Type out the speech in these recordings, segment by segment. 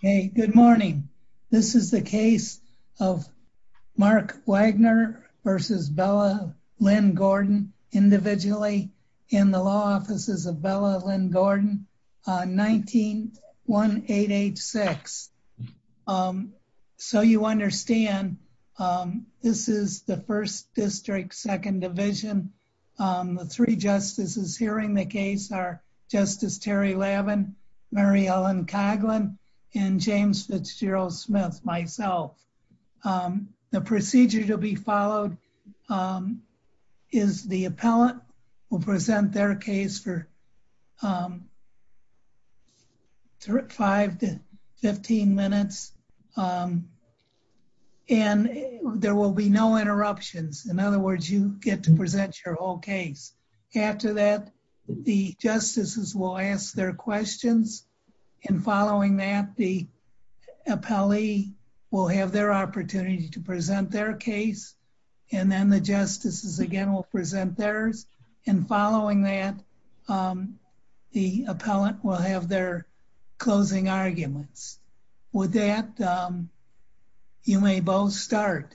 Hey, good morning. This is the case of Mark Wagner v. Bella Lynn Gordon, individually in the Law Offices of Bella Lynn Gordon, 19-1-886. So you understand, this is the 1st District, 2nd Division. The three justices hearing the case are Justice Terry Lavin, Mary Ellen Coghlan, and James Fitzgerald Smith, myself. The procedure to be followed is the appellant will present their case for 5-15 minutes and there will be no interruptions. In other words, you get to present your whole case. After that, the justices will ask their questions. And following that, the appellee will have their opportunity to present their case. And then the justices again will present theirs. And following that, the appellant will have their closing arguments. With that, you may both start.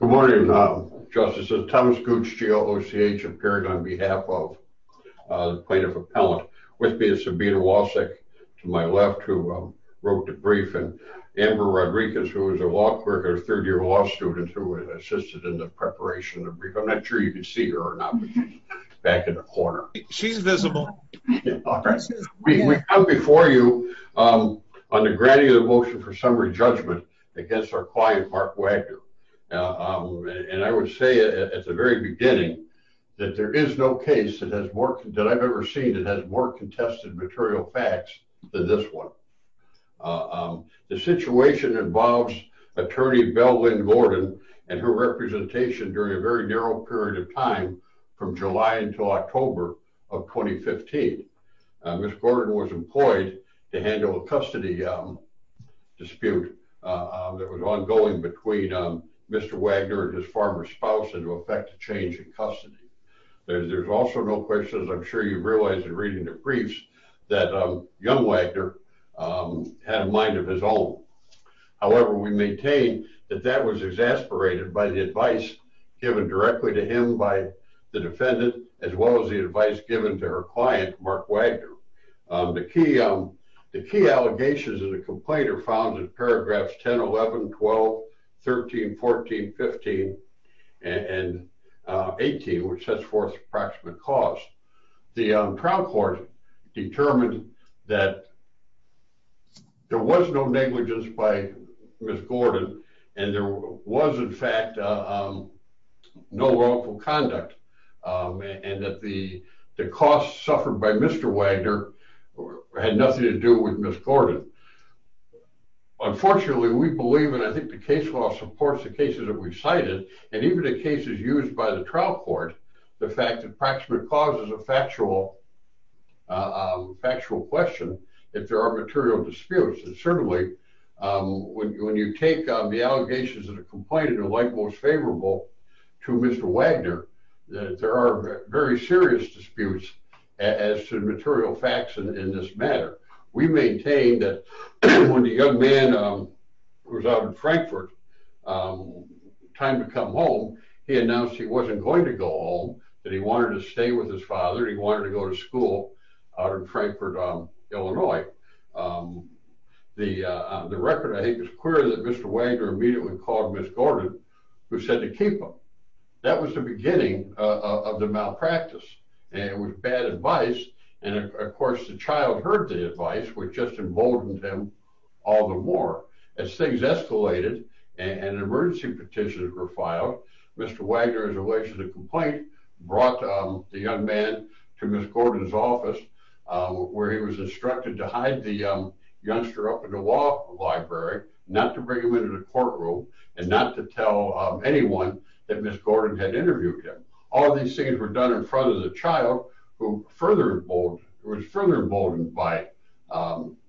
Good morning, Justices. Thomas Gooch, GOOCH, appearing on behalf of the plaintiff appellant. With me is Sabina Wasik, to my left, who wrote the brief. And Amber Rodriguez, who is a law clerk and a third-year law student who assisted in the preparation of the brief. I'm not sure you can see her or not, but she's back in the corner. She's visible. We come before you on the granting of the motion for summary judgment against our client, Mark Wagner. And I would say at the very beginning that there is no case that I've ever seen that has more contested material facts than this one. The situation involves attorney Belle Lynn Gordon and her representation during a very narrow period of time from July until October of 2015. Ms. Gordon was employed to handle a custody dispute that was ongoing between Mr. Wagner and his former spouse and to effect a change in custody. There's also no question, as I'm sure you realize in reading the briefs, that young Wagner had a mind of his own. However, we maintain that that was exasperated by the advice given directly to him by the defendant, as well as the advice given to her client, Mark Wagner. The key allegations of the complaint are found in paragraphs 10, 11, 12, 13, 14, 15, and 18, which sets forth approximate costs. The trial court determined that there was no negligence by Ms. Gordon and there was, in fact, no wrongful conduct and that the costs suffered by Mr. Wagner had nothing to do with Ms. Gordon. Unfortunately, we believe, and I think the case law supports the cases that we've cited, and even in cases used by the trial court, the fact that approximate costs is a factual question if there are material disputes. And certainly, when you take the allegations of the complaint and you're like most favorable to Mr. Wagner, there are very serious disputes as to material facts in this matter. We maintain that when the young man was out in Frankfurt, time to come home, he announced he wasn't going to go home, that he wanted to stay with his father, he wanted to go to school out in Frankfurt, Illinois. The record, I think, is clear that Mr. Wagner immediately called Ms. Gordon, who said to keep him. That was the beginning of the malpractice. It was bad advice, and of course, the child heard the advice, which just emboldened him all the more. As things escalated, and emergency petitions were filed, Mr. Wagner, in relation to the complaint, brought the young man to Ms. Gordon's office, where he was instructed to hide the youngster up in the law library, not to bring him into the courtroom, and not to tell anyone that Ms. Gordon had interviewed him. All these things were done in front of the child, who was further emboldened by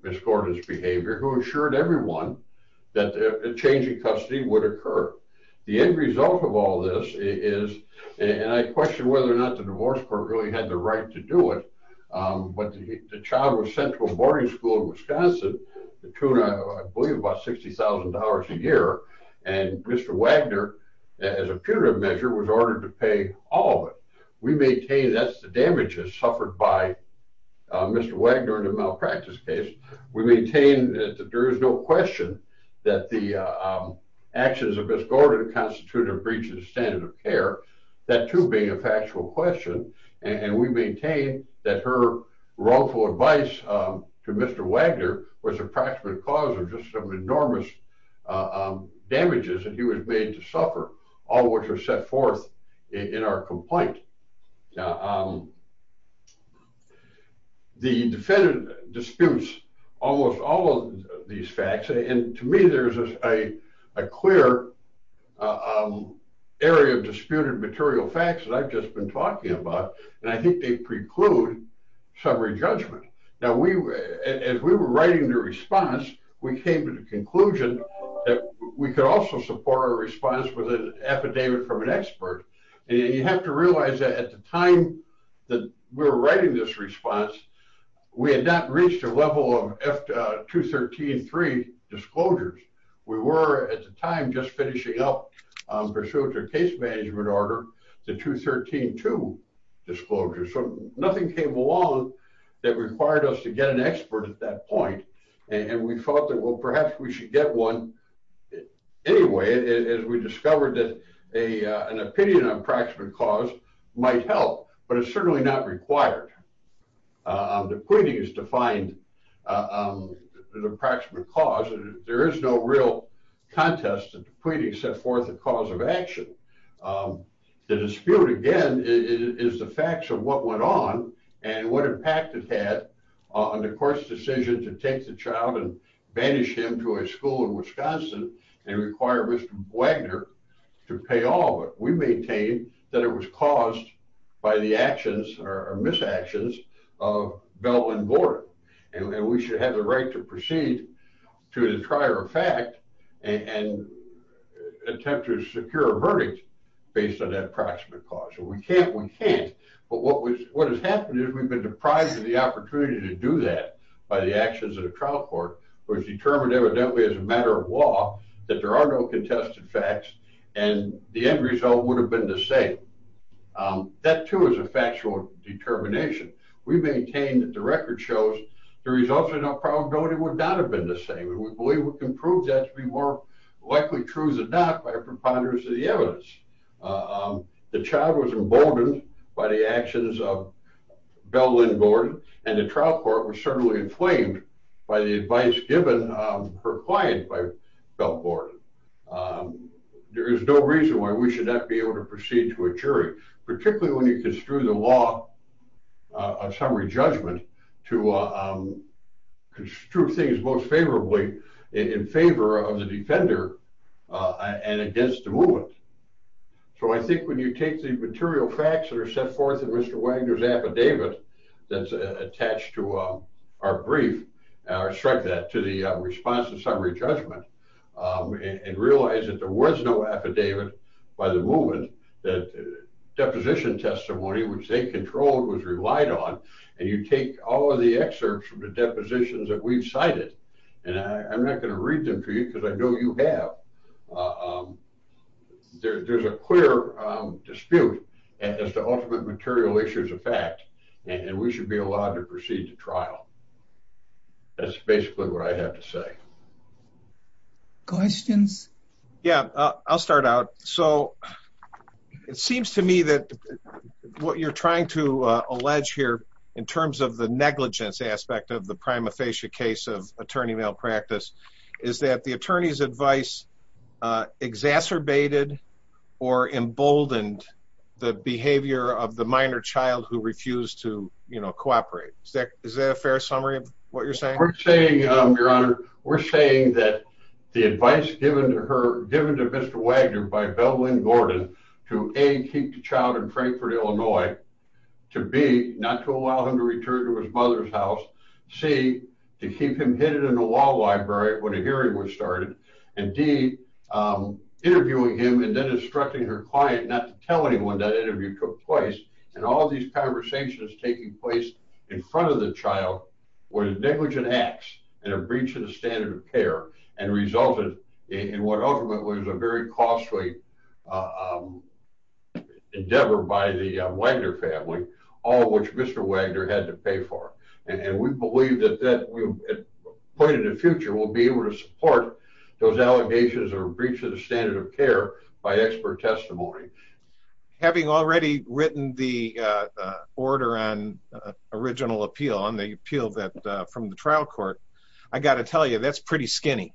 Ms. Gordon's behavior, who assured everyone that a change in custody would occur. The end result of all this is, and I question whether or not the divorce court really had the right to do it, but the child was sent to a boarding school in Wisconsin, the tune of, I believe, about $60,000 a year, and Mr. Wagner, as a punitive measure, was ordered to pay all of it. That's the damages suffered by Mr. Wagner in the malpractice case. We maintain that there is no question that the actions of Ms. Gordon constituted a breach of the standard of care, that too being a factual question. And we maintain that her wrongful advice to Mr. Wagner was a practical cause of just some enormous damages that he was made to suffer, all of which are set forth in our complaint. The defendant disputes almost all of these facts, and to me there's a clear area of disputed material facts that I've just been talking about, and I think they preclude summary judgment. Now, as we were writing the response, we came to the conclusion that we could also support our response with an affidavit from an expert, and you have to realize that at the time that we were writing this response, we had not reached a level of 213-3 disclosures. We were, at the time, just finishing up pursuant to a case management order, the 213-2 disclosure, so nothing came along that required us to get an expert at that point, and we thought that, well, perhaps we should get one anyway, as we discovered that an opinion on a practical cause might help, but it's certainly not required. The pleading is to find an approximate cause, and there is no real contest that the pleading set forth a cause of action. The dispute, again, is the facts of what went on and what impact it had on the court's decision to take the child and banish him to a school in Wisconsin and require Mr. Wagner to pay all of it. We maintain that it was caused by the actions or misactions of Bell and Gordon, and we should have the right to proceed to the trier of fact and attempt to secure a verdict based on that approximate cause. We can't, we can't, but what has happened is we've been deprived of the opportunity to do that by the actions of the trial court, which determined evidently as a matter of law that there are no contested facts, and the end result would have been the same. That, too, is a factual determination. We maintain that the record shows the results of the trial would not have been the same, and we believe we can prove that to be more likely truths than not by preponderance of the evidence. The child was emboldened by the actions of Bell and Gordon, and the trial court was certainly inflamed by the advice given per client by Bell and Gordon. There is no reason why we should not be able to proceed to a jury, particularly when you construe the law of summary judgment to construe things most favorably in favor of the defender and against the movement. So I think when you take the material facts that are set forth in Mr. Wagner's affidavit that's attached to our brief, and I strike that to the response to summary judgment, and realize that there was no affidavit by the movement, that deposition testimony, which they controlled, was relied on, and you take all of the excerpts from the depositions that we've cited, and I'm not going to read them for you because I know you have. There's a clear dispute as to ultimate material issues of fact, and we should be allowed to proceed to trial. That's basically what I have to say. Questions? Yeah, I'll start out. So it seems to me that what you're trying to allege here in terms of the negligence aspect of the prima facie case of attorney malpractice is that the attorney's advice exacerbated or emboldened the behavior of the minor child who refused to cooperate. Is that a fair summary of what you're saying? We're saying, Your Honor, we're saying that the advice given to her, given to Mr. Wagner by Belle Lynn Gordon to A, keep the child in Frankfort, Illinois, to B, not to allow him to return to his mother's house, C, to keep him hidden in the law library when a hearing was started, and D, interviewing him and then instructing her client not to tell anyone that interview took place, and all these conversations taking place in front of the child were negligent acts and a breach of the standard of care and resulted in what ultimately was a very costly endeavor by the Wagner family, all of which Mr. Wagner had to pay for. And we believe that at a point in the future, we'll be able to support those allegations of a breach of the standard of care by expert testimony. Having already written the order on original appeal on the appeal that from the trial court, I got to tell you, that's pretty skinny.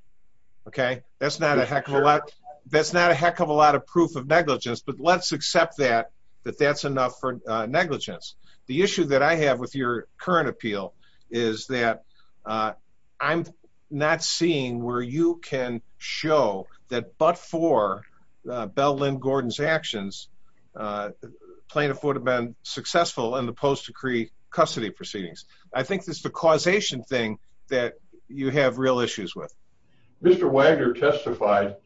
Okay, that's not a heck of a lot. That's not a heck of a lot of proof of negligence, but let's accept that, that that's enough for negligence. The issue that I have with your current appeal is that I'm not seeing where you can show that but for Belle Lynn Gordon's actions, plaintiff would have been successful in the post-decree custody proceedings. I think that's the causation thing that you have real issues with. Mr. Wagner testified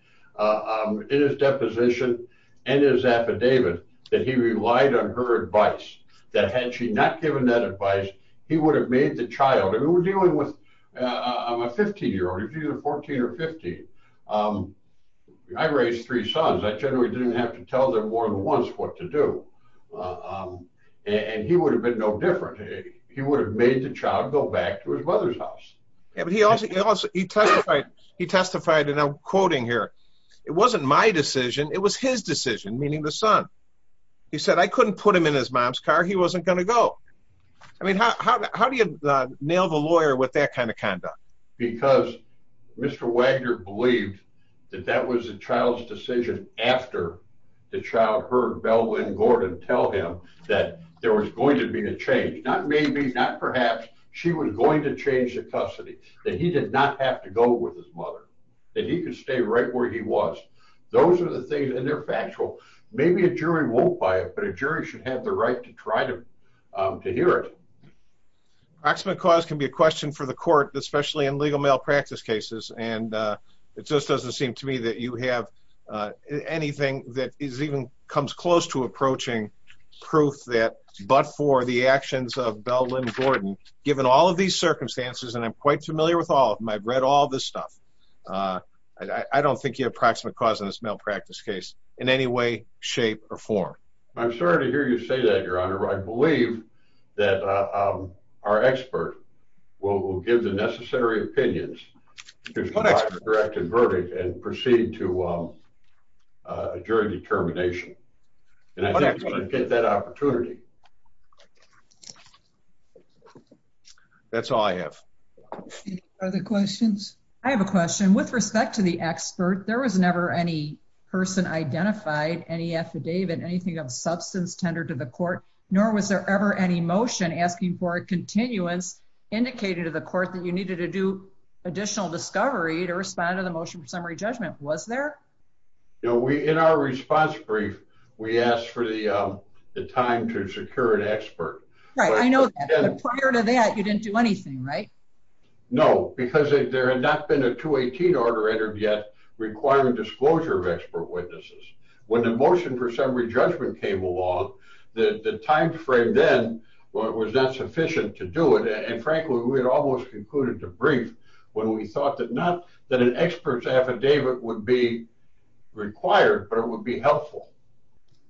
in his deposition and his affidavit that he relied on her advice, that had she not given that advice, he would have made the child, and we're dealing with, I'm a 15 year old, he's either 14 or 15. I raised three sons, I generally didn't have to tell them more than once what to do. And he would have been no different. He would have made the child go back to his mother's house. He testified, and I'm quoting here, it wasn't my decision, it was his decision, meaning the son. He said, I couldn't put him in his mom's car, he wasn't going to go. I mean, how do you nail the lawyer with that kind of conduct? Because Mr. Wagner believed that that was the child's decision after the child heard Belle Lynn Gordon tell him that there was going to be a change, not maybe, not perhaps, she was going to change the custody, that he did not have to go with his mother, that he could stay right where he was. Those are the things, and they're factual. Maybe a jury won't buy it, but a jury should have the right to try to hear it. Proximate cause can be a question for the court, especially in legal malpractice cases, and it just doesn't seem to me that you have anything that even comes close to approaching proof that, but for the actions of Belle Lynn Gordon, given all of these circumstances, and I'm quite familiar with all of them, I've read all this stuff, I don't think you have proximate cause in this malpractice case in any way, shape, or form. I'm sorry to hear you say that, Your Honor, I believe that our expert will give the necessary opinions to provide a direct verdict and proceed to a jury determination, and I think you should get that opportunity. That's all I have. Any other questions? I have a question. With respect to the expert, there was never any person identified, any affidavit, anything of substance tendered to the court, nor was there ever any motion asking for a continuance indicated to the court that you needed to do additional discovery to respond to the motion for summary judgment. Was there? In our response brief, we asked for the time to secure an expert. Right, I know that, but prior to that, you didn't do anything, right? No, because there had not been a 218 order entered yet requiring disclosure of expert witnesses. When the motion for summary judgment came along, the timeframe then was not sufficient to do it, and frankly, we had almost concluded the brief when we thought that not that an expert's affidavit would be required, but it would be helpful.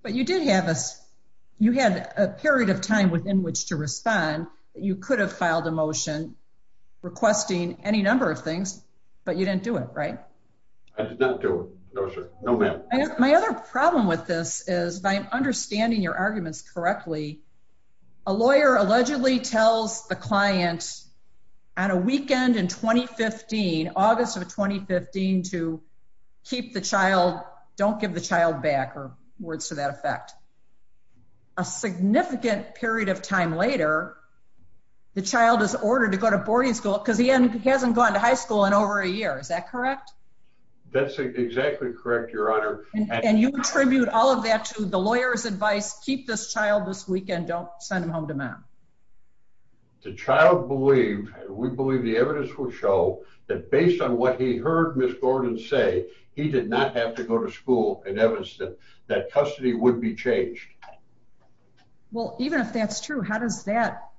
But you did have a period of time within which to respond. You could have filed a motion requesting any number of things, but you didn't do it, right? I did not do it. No, ma'am. My other problem with this is, if I'm understanding your arguments correctly, a lawyer allegedly tells the client on a weekend in 2015, August of 2015, to keep the child, don't give the child back, or words to that effect. A significant period of time later, the child is ordered to go to boarding school because he hasn't gone to high school in over a year. Is that correct? That's exactly correct, Your Honor. And you attribute all of that to the lawyer's advice, keep this child this weekend, don't send him home to mom? The child believed, we believe the evidence would show, that based on what he heard Ms. Gordon say, he did not have to go to school, and evidence that custody would be changed. Well, even if that's true, how does that,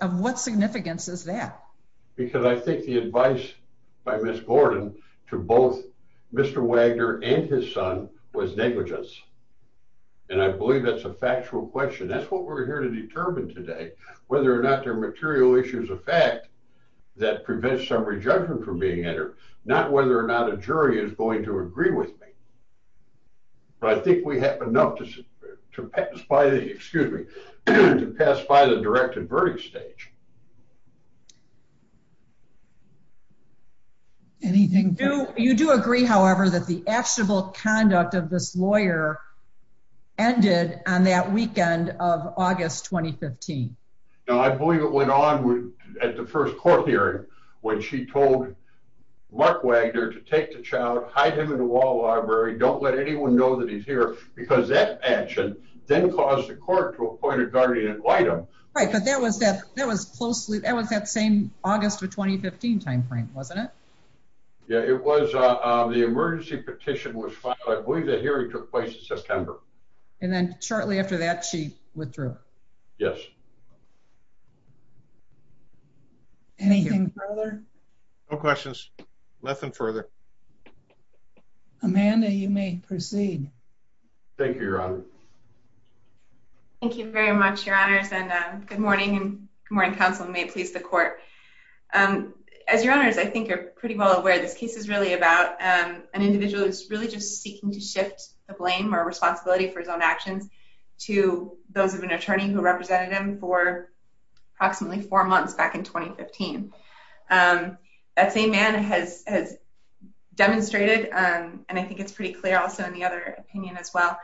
of what significance is that? Because I think the advice by Ms. Gordon to both Mr. Wagner and his son was negligence, and I believe that's a factual question. That's what we're here to determine today, whether or not there are material issues of fact that prevent some rejuvenation from being entered, not whether or not a jury is going to agree with me. But I think we have enough to pass by the, excuse me, to pass by the direct and verdict stage. You do agree, however, that the actual conduct of this lawyer ended on that weekend of August 2015? No, I believe it went on at the first court hearing, when she told Mark Wagner to take the child, hide him in a wall library, don't let anyone know that he's here, because that action then caused the court to appoint a guardian and invite him. Right, but that was that, that was closely, that was that same August of 2015 timeframe, wasn't it? Yeah, it was, the emergency petition was filed, I believe the hearing took place in September. And then shortly after that, she withdrew? Yes. Anything further? No questions, nothing further. Amanda, you may proceed. Thank you, Your Honor. Thank you very much, Your Honors, and good morning, and good morning, counsel, and may it please the court. As Your Honors, I think you're pretty well aware, this case is really about an individual who's really just seeking to shift the blame or responsibility for his own actions to those of an attorney who represented him for approximately four months back in 2015. That same man has demonstrated, and I think it's pretty clear also in the other opinion as well,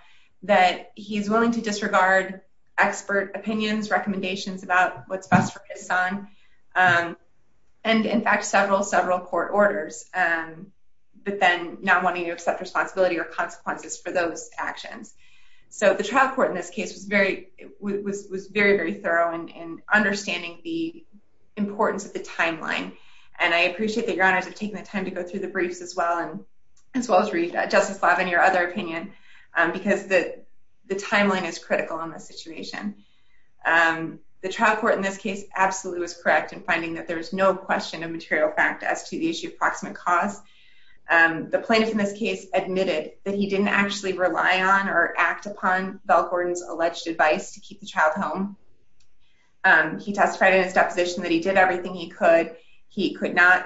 that he's willing to disregard expert opinions, recommendations about what's best for his son, and in fact, several, several court orders, but then not wanting to accept responsibility or consequences for those actions. So the trial court in this case was very, was very, very thorough in understanding the importance of the timeline. And I appreciate that Your Honors have taken the time to go through the briefs as well, and as well as Justice Lavigny, your other opinion, because the timeline is critical in this situation. The trial court in this case absolutely was correct in finding that there was no question of material fact as to the issue of proximate cause. The plaintiff in this case admitted that he didn't actually rely on or act upon Val Gordon's alleged advice to keep the child home. He testified in his deposition that he did everything he could. He could not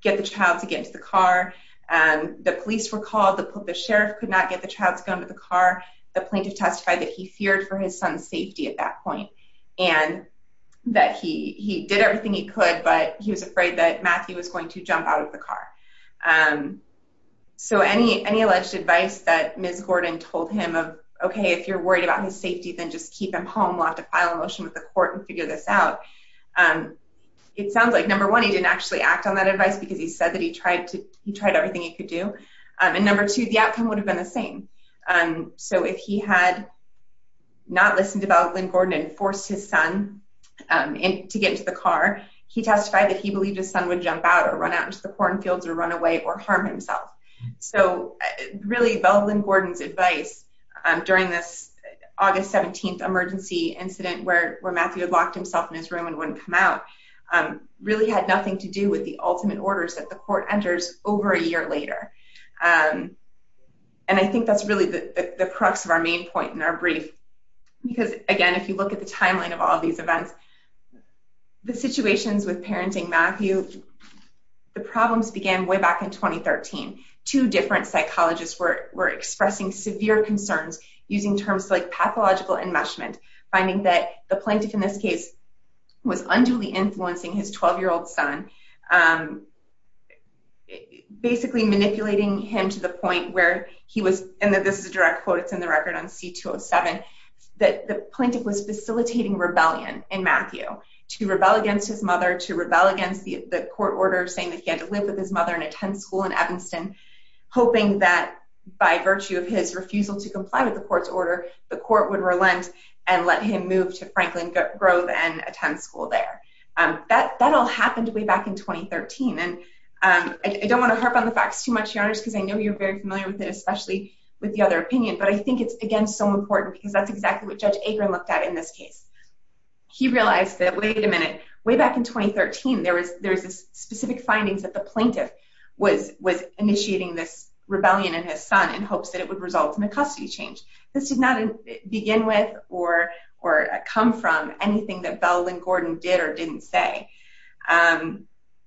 get the child to get into the car. The police were called. The sheriff could not get the child to go into the car. The plaintiff testified that he feared for his son's safety at that point, and that he did everything he could, but he was afraid that Matthew was going to jump out of the car. So any alleged advice that Ms. Gordon told him of, okay, if you're worried about his safety, then just keep him home. We'll have to file a motion with the court and figure this out. It sounds like, number one, he didn't actually act on that advice because he said that he tried everything he could do. And number two, the outcome would have been the same. So if he had not listened to Val Gordon and forced his son to get into the car, he testified that he believed his son would jump out or run out into the cornfields or run away or harm himself. So really, Val Gordon's advice during this August 17th emergency incident where Matthew had locked himself in his room and wouldn't come out really had nothing to do with the ultimate orders that the court enters over a year later. And I think that's really the crux of our main point in our brief. Because, again, if you look at the timeline of all these events, the situations with parenting Matthew, the problems began way back in 2013. Two different psychologists were expressing severe concerns using terms like pathological enmeshment, finding that the plaintiff in this case was unduly influencing his 12-year-old son, basically manipulating him to the point where he was, and this is a direct quote, it's in the record on C-207, that the plaintiff was facilitating rebellion in Matthew to rebel against his mother, to rebel against the court order saying that he had to live with his mother and attend school in Evanston, hoping that by virtue of his refusal to comply with the court's order, the court would relent and let him move to Franklin Grove and attend school there. That all happened way back in 2013. And I don't want to harp on the facts too much, Your Honors, because I know you're very familiar with it, especially with the other opinion, but I think it's, again, so important because that's exactly what Judge Akron looked at in this case. He realized that, wait a minute, way back in 2013, there was specific findings that the plaintiff was initiating this rebellion in his son in hopes that it would result in a custody change. This did not begin with or come from anything that Bell and Gordon did or didn't say.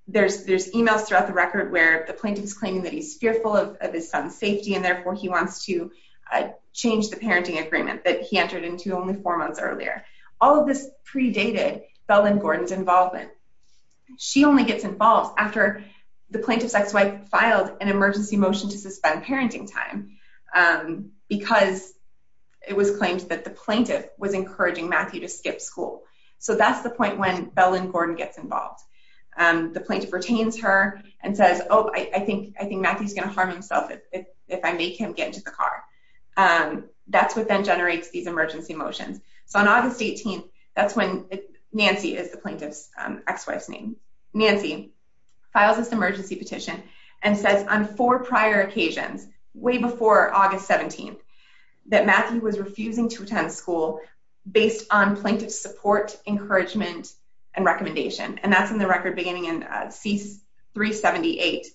There's emails throughout the record where the plaintiff's claiming that he's fearful of his son's safety and therefore he wants to change the parenting agreement that he entered into only four months earlier. All of this predated Bell and Gordon's involvement. She only gets involved after the plaintiff's ex-wife filed an emergency motion to suspend parenting time because it was claimed that the plaintiff was encouraging Matthew to skip school. So that's the point when Bell and Gordon gets involved. The plaintiff retains her and says, oh, I think Matthew's going to harm himself if I make him get into the car. That's what then generates these emergency motions. So on August 18th, that's when Nancy is the plaintiff's ex-wife's name. Nancy files this emergency petition and says on four prior occasions, way before August 17th, that Matthew was refusing to attend school based on plaintiff's support, encouragement, and recommendation. And that's in the record beginning in C-378,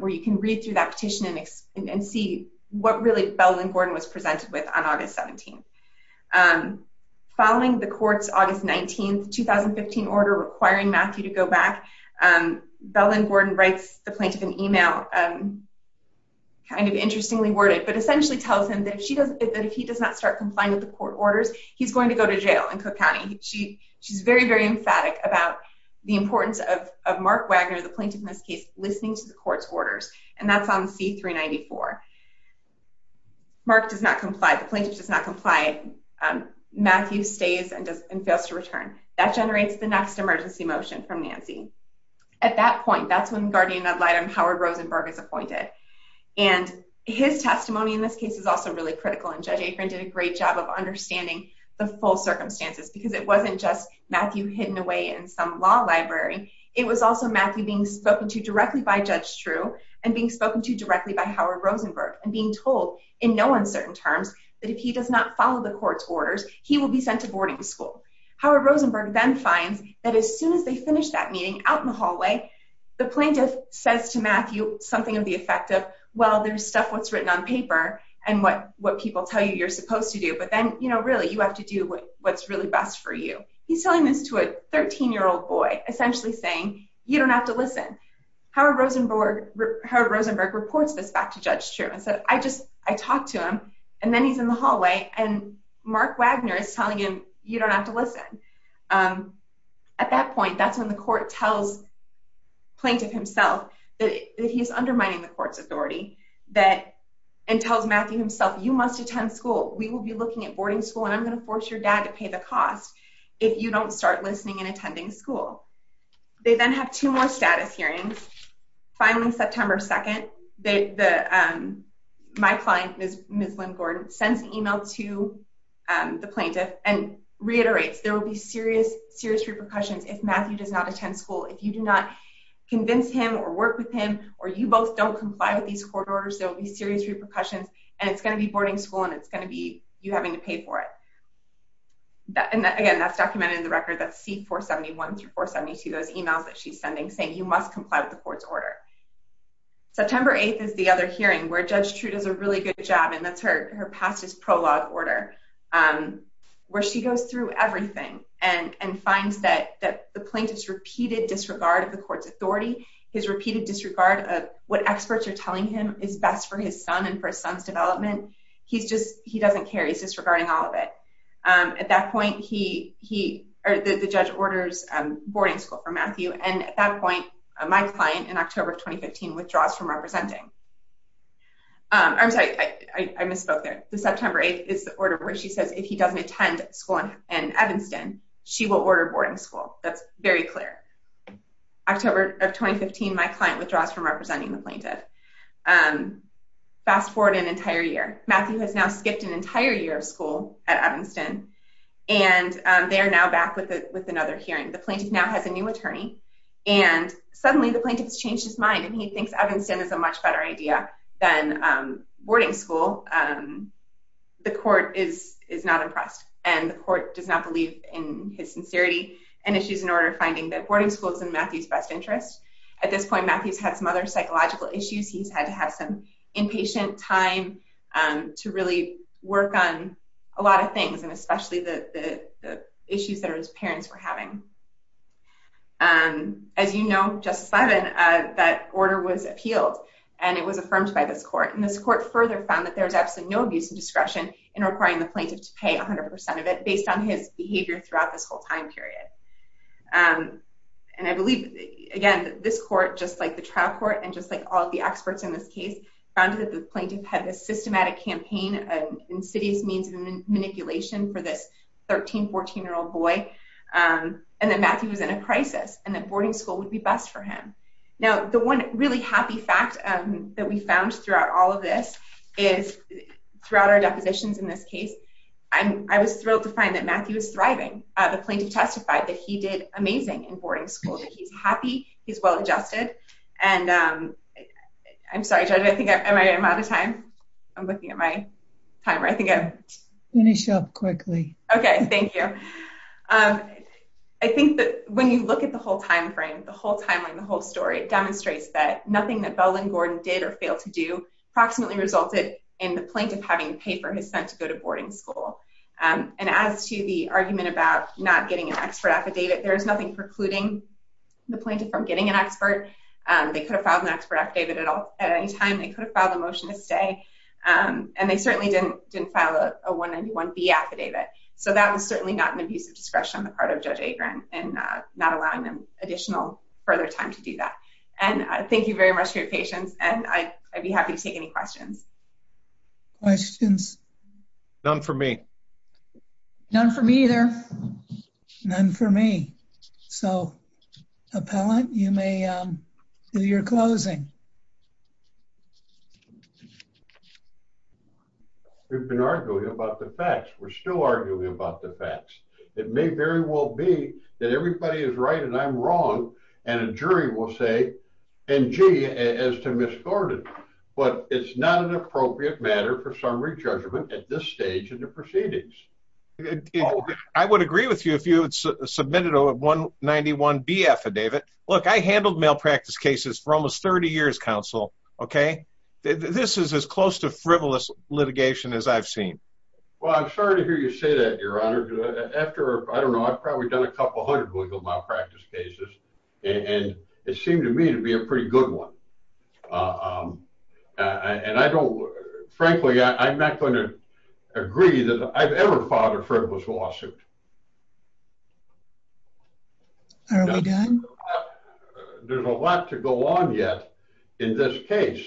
where you can read through that petition and see what really Bell and Gordon was presented with on August 17th. Following the court's August 19th, 2015 order requiring Matthew to go back, Bell and Gordon writes the plaintiff an email, kind of interestingly worded, but essentially tells him that if he does not start complying with the court orders, he's going to go to jail in Cook County. She's very, very emphatic about the importance of Mark Wagner, the plaintiff in this case, listening to the court's orders. And that's on C-394. Mark does not comply, the plaintiff does not comply. Matthew stays and fails to return. That generates the next emergency motion from Nancy. At that point, that's when guardian ad litem Howard Rosenberg is appointed. And his testimony in this case is also really critical. And Judge Akron did a great job of understanding the full circumstances because it wasn't just Matthew hidden away in some law library. It was also Matthew being spoken to directly by Judge Drew and being spoken to directly by Howard Rosenberg and being told in no uncertain terms that if he does not follow the court's orders, he will be sent to boarding school. Howard Rosenberg then finds that as soon as they finish that meeting out in the hallway, the plaintiff says to Matthew something of the effect of, well, there's stuff that's written on paper and what people tell you you're supposed to do. But then, you know, really, you have to do what's really best for you. He's telling this to a 13-year-old boy, essentially saying, you don't have to listen. Howard Rosenberg reports this back to Judge Drew and says, I just, I talked to him. And then he's in the hallway and Mark Wagner is telling him, you don't have to listen. At that point, that's when the court tells the plaintiff himself that he's undermining the court's authority and tells Matthew himself, you must attend school. We will be looking at boarding school and I'm going to force your dad to pay the cost. If you don't start listening and attending school. They then have two more status hearings. Finally, September 2nd, my client, Ms. Lynn Gordon, sends an email to the plaintiff and reiterates there will be serious repercussions if Matthew does not attend school. If you do not convince him or work with him or you both don't comply with these court orders, there will be serious repercussions and it's going to be boarding school and it's going to be you having to pay for it. And again, that's documented in the record that C-471 through 472, those emails that she's sending saying you must comply with the court's order. September 8th is the other hearing where Judge Trudeau does a really good job. And that's her past his prologue order. Where she goes through everything and finds that the plaintiff's repeated disregard of the court's authority, his repeated disregard of what experts are telling him is best for his son and for his son's development. He doesn't care. He's disregarding all of it. At that point, the judge orders boarding school for Matthew. And at that point, my client in October of 2015 withdraws from representing. I'm sorry, I misspoke there. The September 8th is the order where she says if he doesn't attend school in Evanston, she will order boarding school. That's very clear. October of 2015, my client withdraws from representing the plaintiff. Fast forward an entire year. Matthew has now skipped an entire year of school at Evanston. And they are now back with another hearing. The plaintiff now has a new attorney. And suddenly, the plaintiff has changed his mind and he thinks Evanston is a much better idea than boarding school. The court is not impressed. And the court does not believe in his sincerity and issues in order of finding that boarding school is in Matthew's best interest. At this point, Matthew's had some other psychological issues. He's had to have some impatient time to really work on a lot of things. And especially the issues that his parents were having. As you know, Justice Levin, that order was appealed and it was affirmed by this court. And this court further found that there was absolutely no abuse of discretion in requiring the plaintiff to pay 100% of it based on his behavior throughout this whole time period. And I believe, again, this court, just like the trial court and just like all the experts in this case, found that the plaintiff had this systematic campaign and insidious means of manipulation for this 13, 14-year-old boy. And that Matthew was in a crisis and that boarding school would be best for him. Now, the one really happy fact that we found throughout all of this is, throughout our depositions in this case, I was thrilled to find that Matthew is thriving. The plaintiff testified that he did amazing in boarding school, that he's happy, he's well-adjusted. And I'm sorry, Judge, I think I'm out of time. I'm looking at my timer. I think I'm... Finish up quickly. Okay, thank you. I think that when you look at the whole time frame, the whole timeline, the whole story, it demonstrates that nothing that Bell and Gordon did or failed to do approximately resulted in the plaintiff having the paper he was sent to go to boarding school. And as to the argument about not getting an expert affidavit, there is nothing precluding the plaintiff from getting an expert. They could have filed an expert affidavit at any time. They could have filed a motion to stay. And they certainly didn't file a 191B affidavit. So that was certainly not an abuse of discretion on the part of Judge Agran and not allowing them additional further time to do that. And I thank you very much for your patience, and I'd be happy to take any questions. Questions? None for me. None for me either. None for me. So, Appellant, you may do your closing. We've been arguing about the facts. We're still arguing about the facts. It may very well be that everybody is right and I'm wrong, and a jury will say, and gee, as to Miss Gordon. But it's not an appropriate matter for summary judgment at this stage in the proceedings. I would agree with you if you had submitted a 191B affidavit. Look, I handled malpractice cases for almost 30 years, Counsel, okay? This is as close to frivolous litigation as I've seen. Well, I'm sorry to hear you say that, Your Honor. After, I don't know, I've probably done a couple hundred legal malpractice cases. And it seemed to me to be a pretty good one. And I don't, frankly, I'm not going to agree that I've ever filed a frivolous lawsuit. Are we done? There's a lot to go on yet in this case.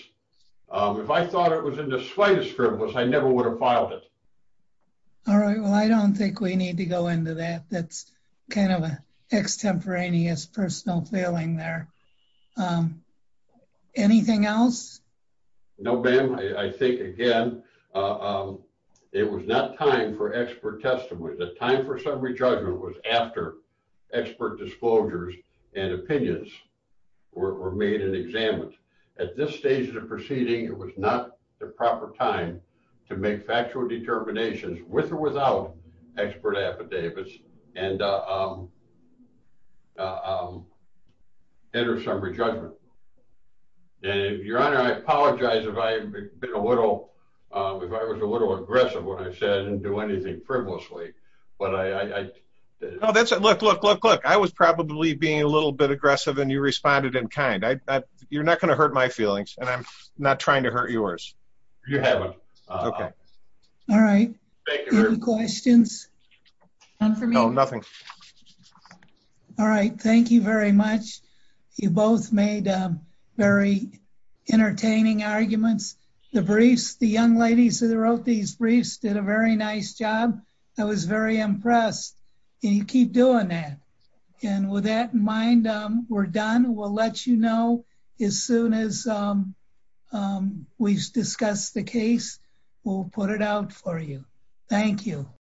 If I thought it was in the slightest frivolous, I never would have filed it. All right, well, I don't think we need to go into that. That's kind of an extemporaneous personal feeling there. Anything else? No, ma'am. I think, again, it was not time for expert testimony. The time for summary judgment was after expert disclosures and opinions were made and examined. At this stage of the proceeding, it was not the proper time to make factual determinations with or without expert affidavits and enter summary judgment. And, Your Honor, I apologize if I was a little aggressive when I said I didn't do anything frivolously. No, look, I was probably being a little bit aggressive and you responded in kind. You're not going to hurt my feelings and I'm not trying to hurt yours. You haven't. All right. Any questions? No, nothing. All right. Thank you very much. You both made very entertaining arguments. The briefs, the young ladies that wrote these briefs did a very nice job. I was very impressed. And you keep doing that. And with that in mind, we're done. We'll let you know as soon as we've discussed the case. We'll put it out for you. Thank you.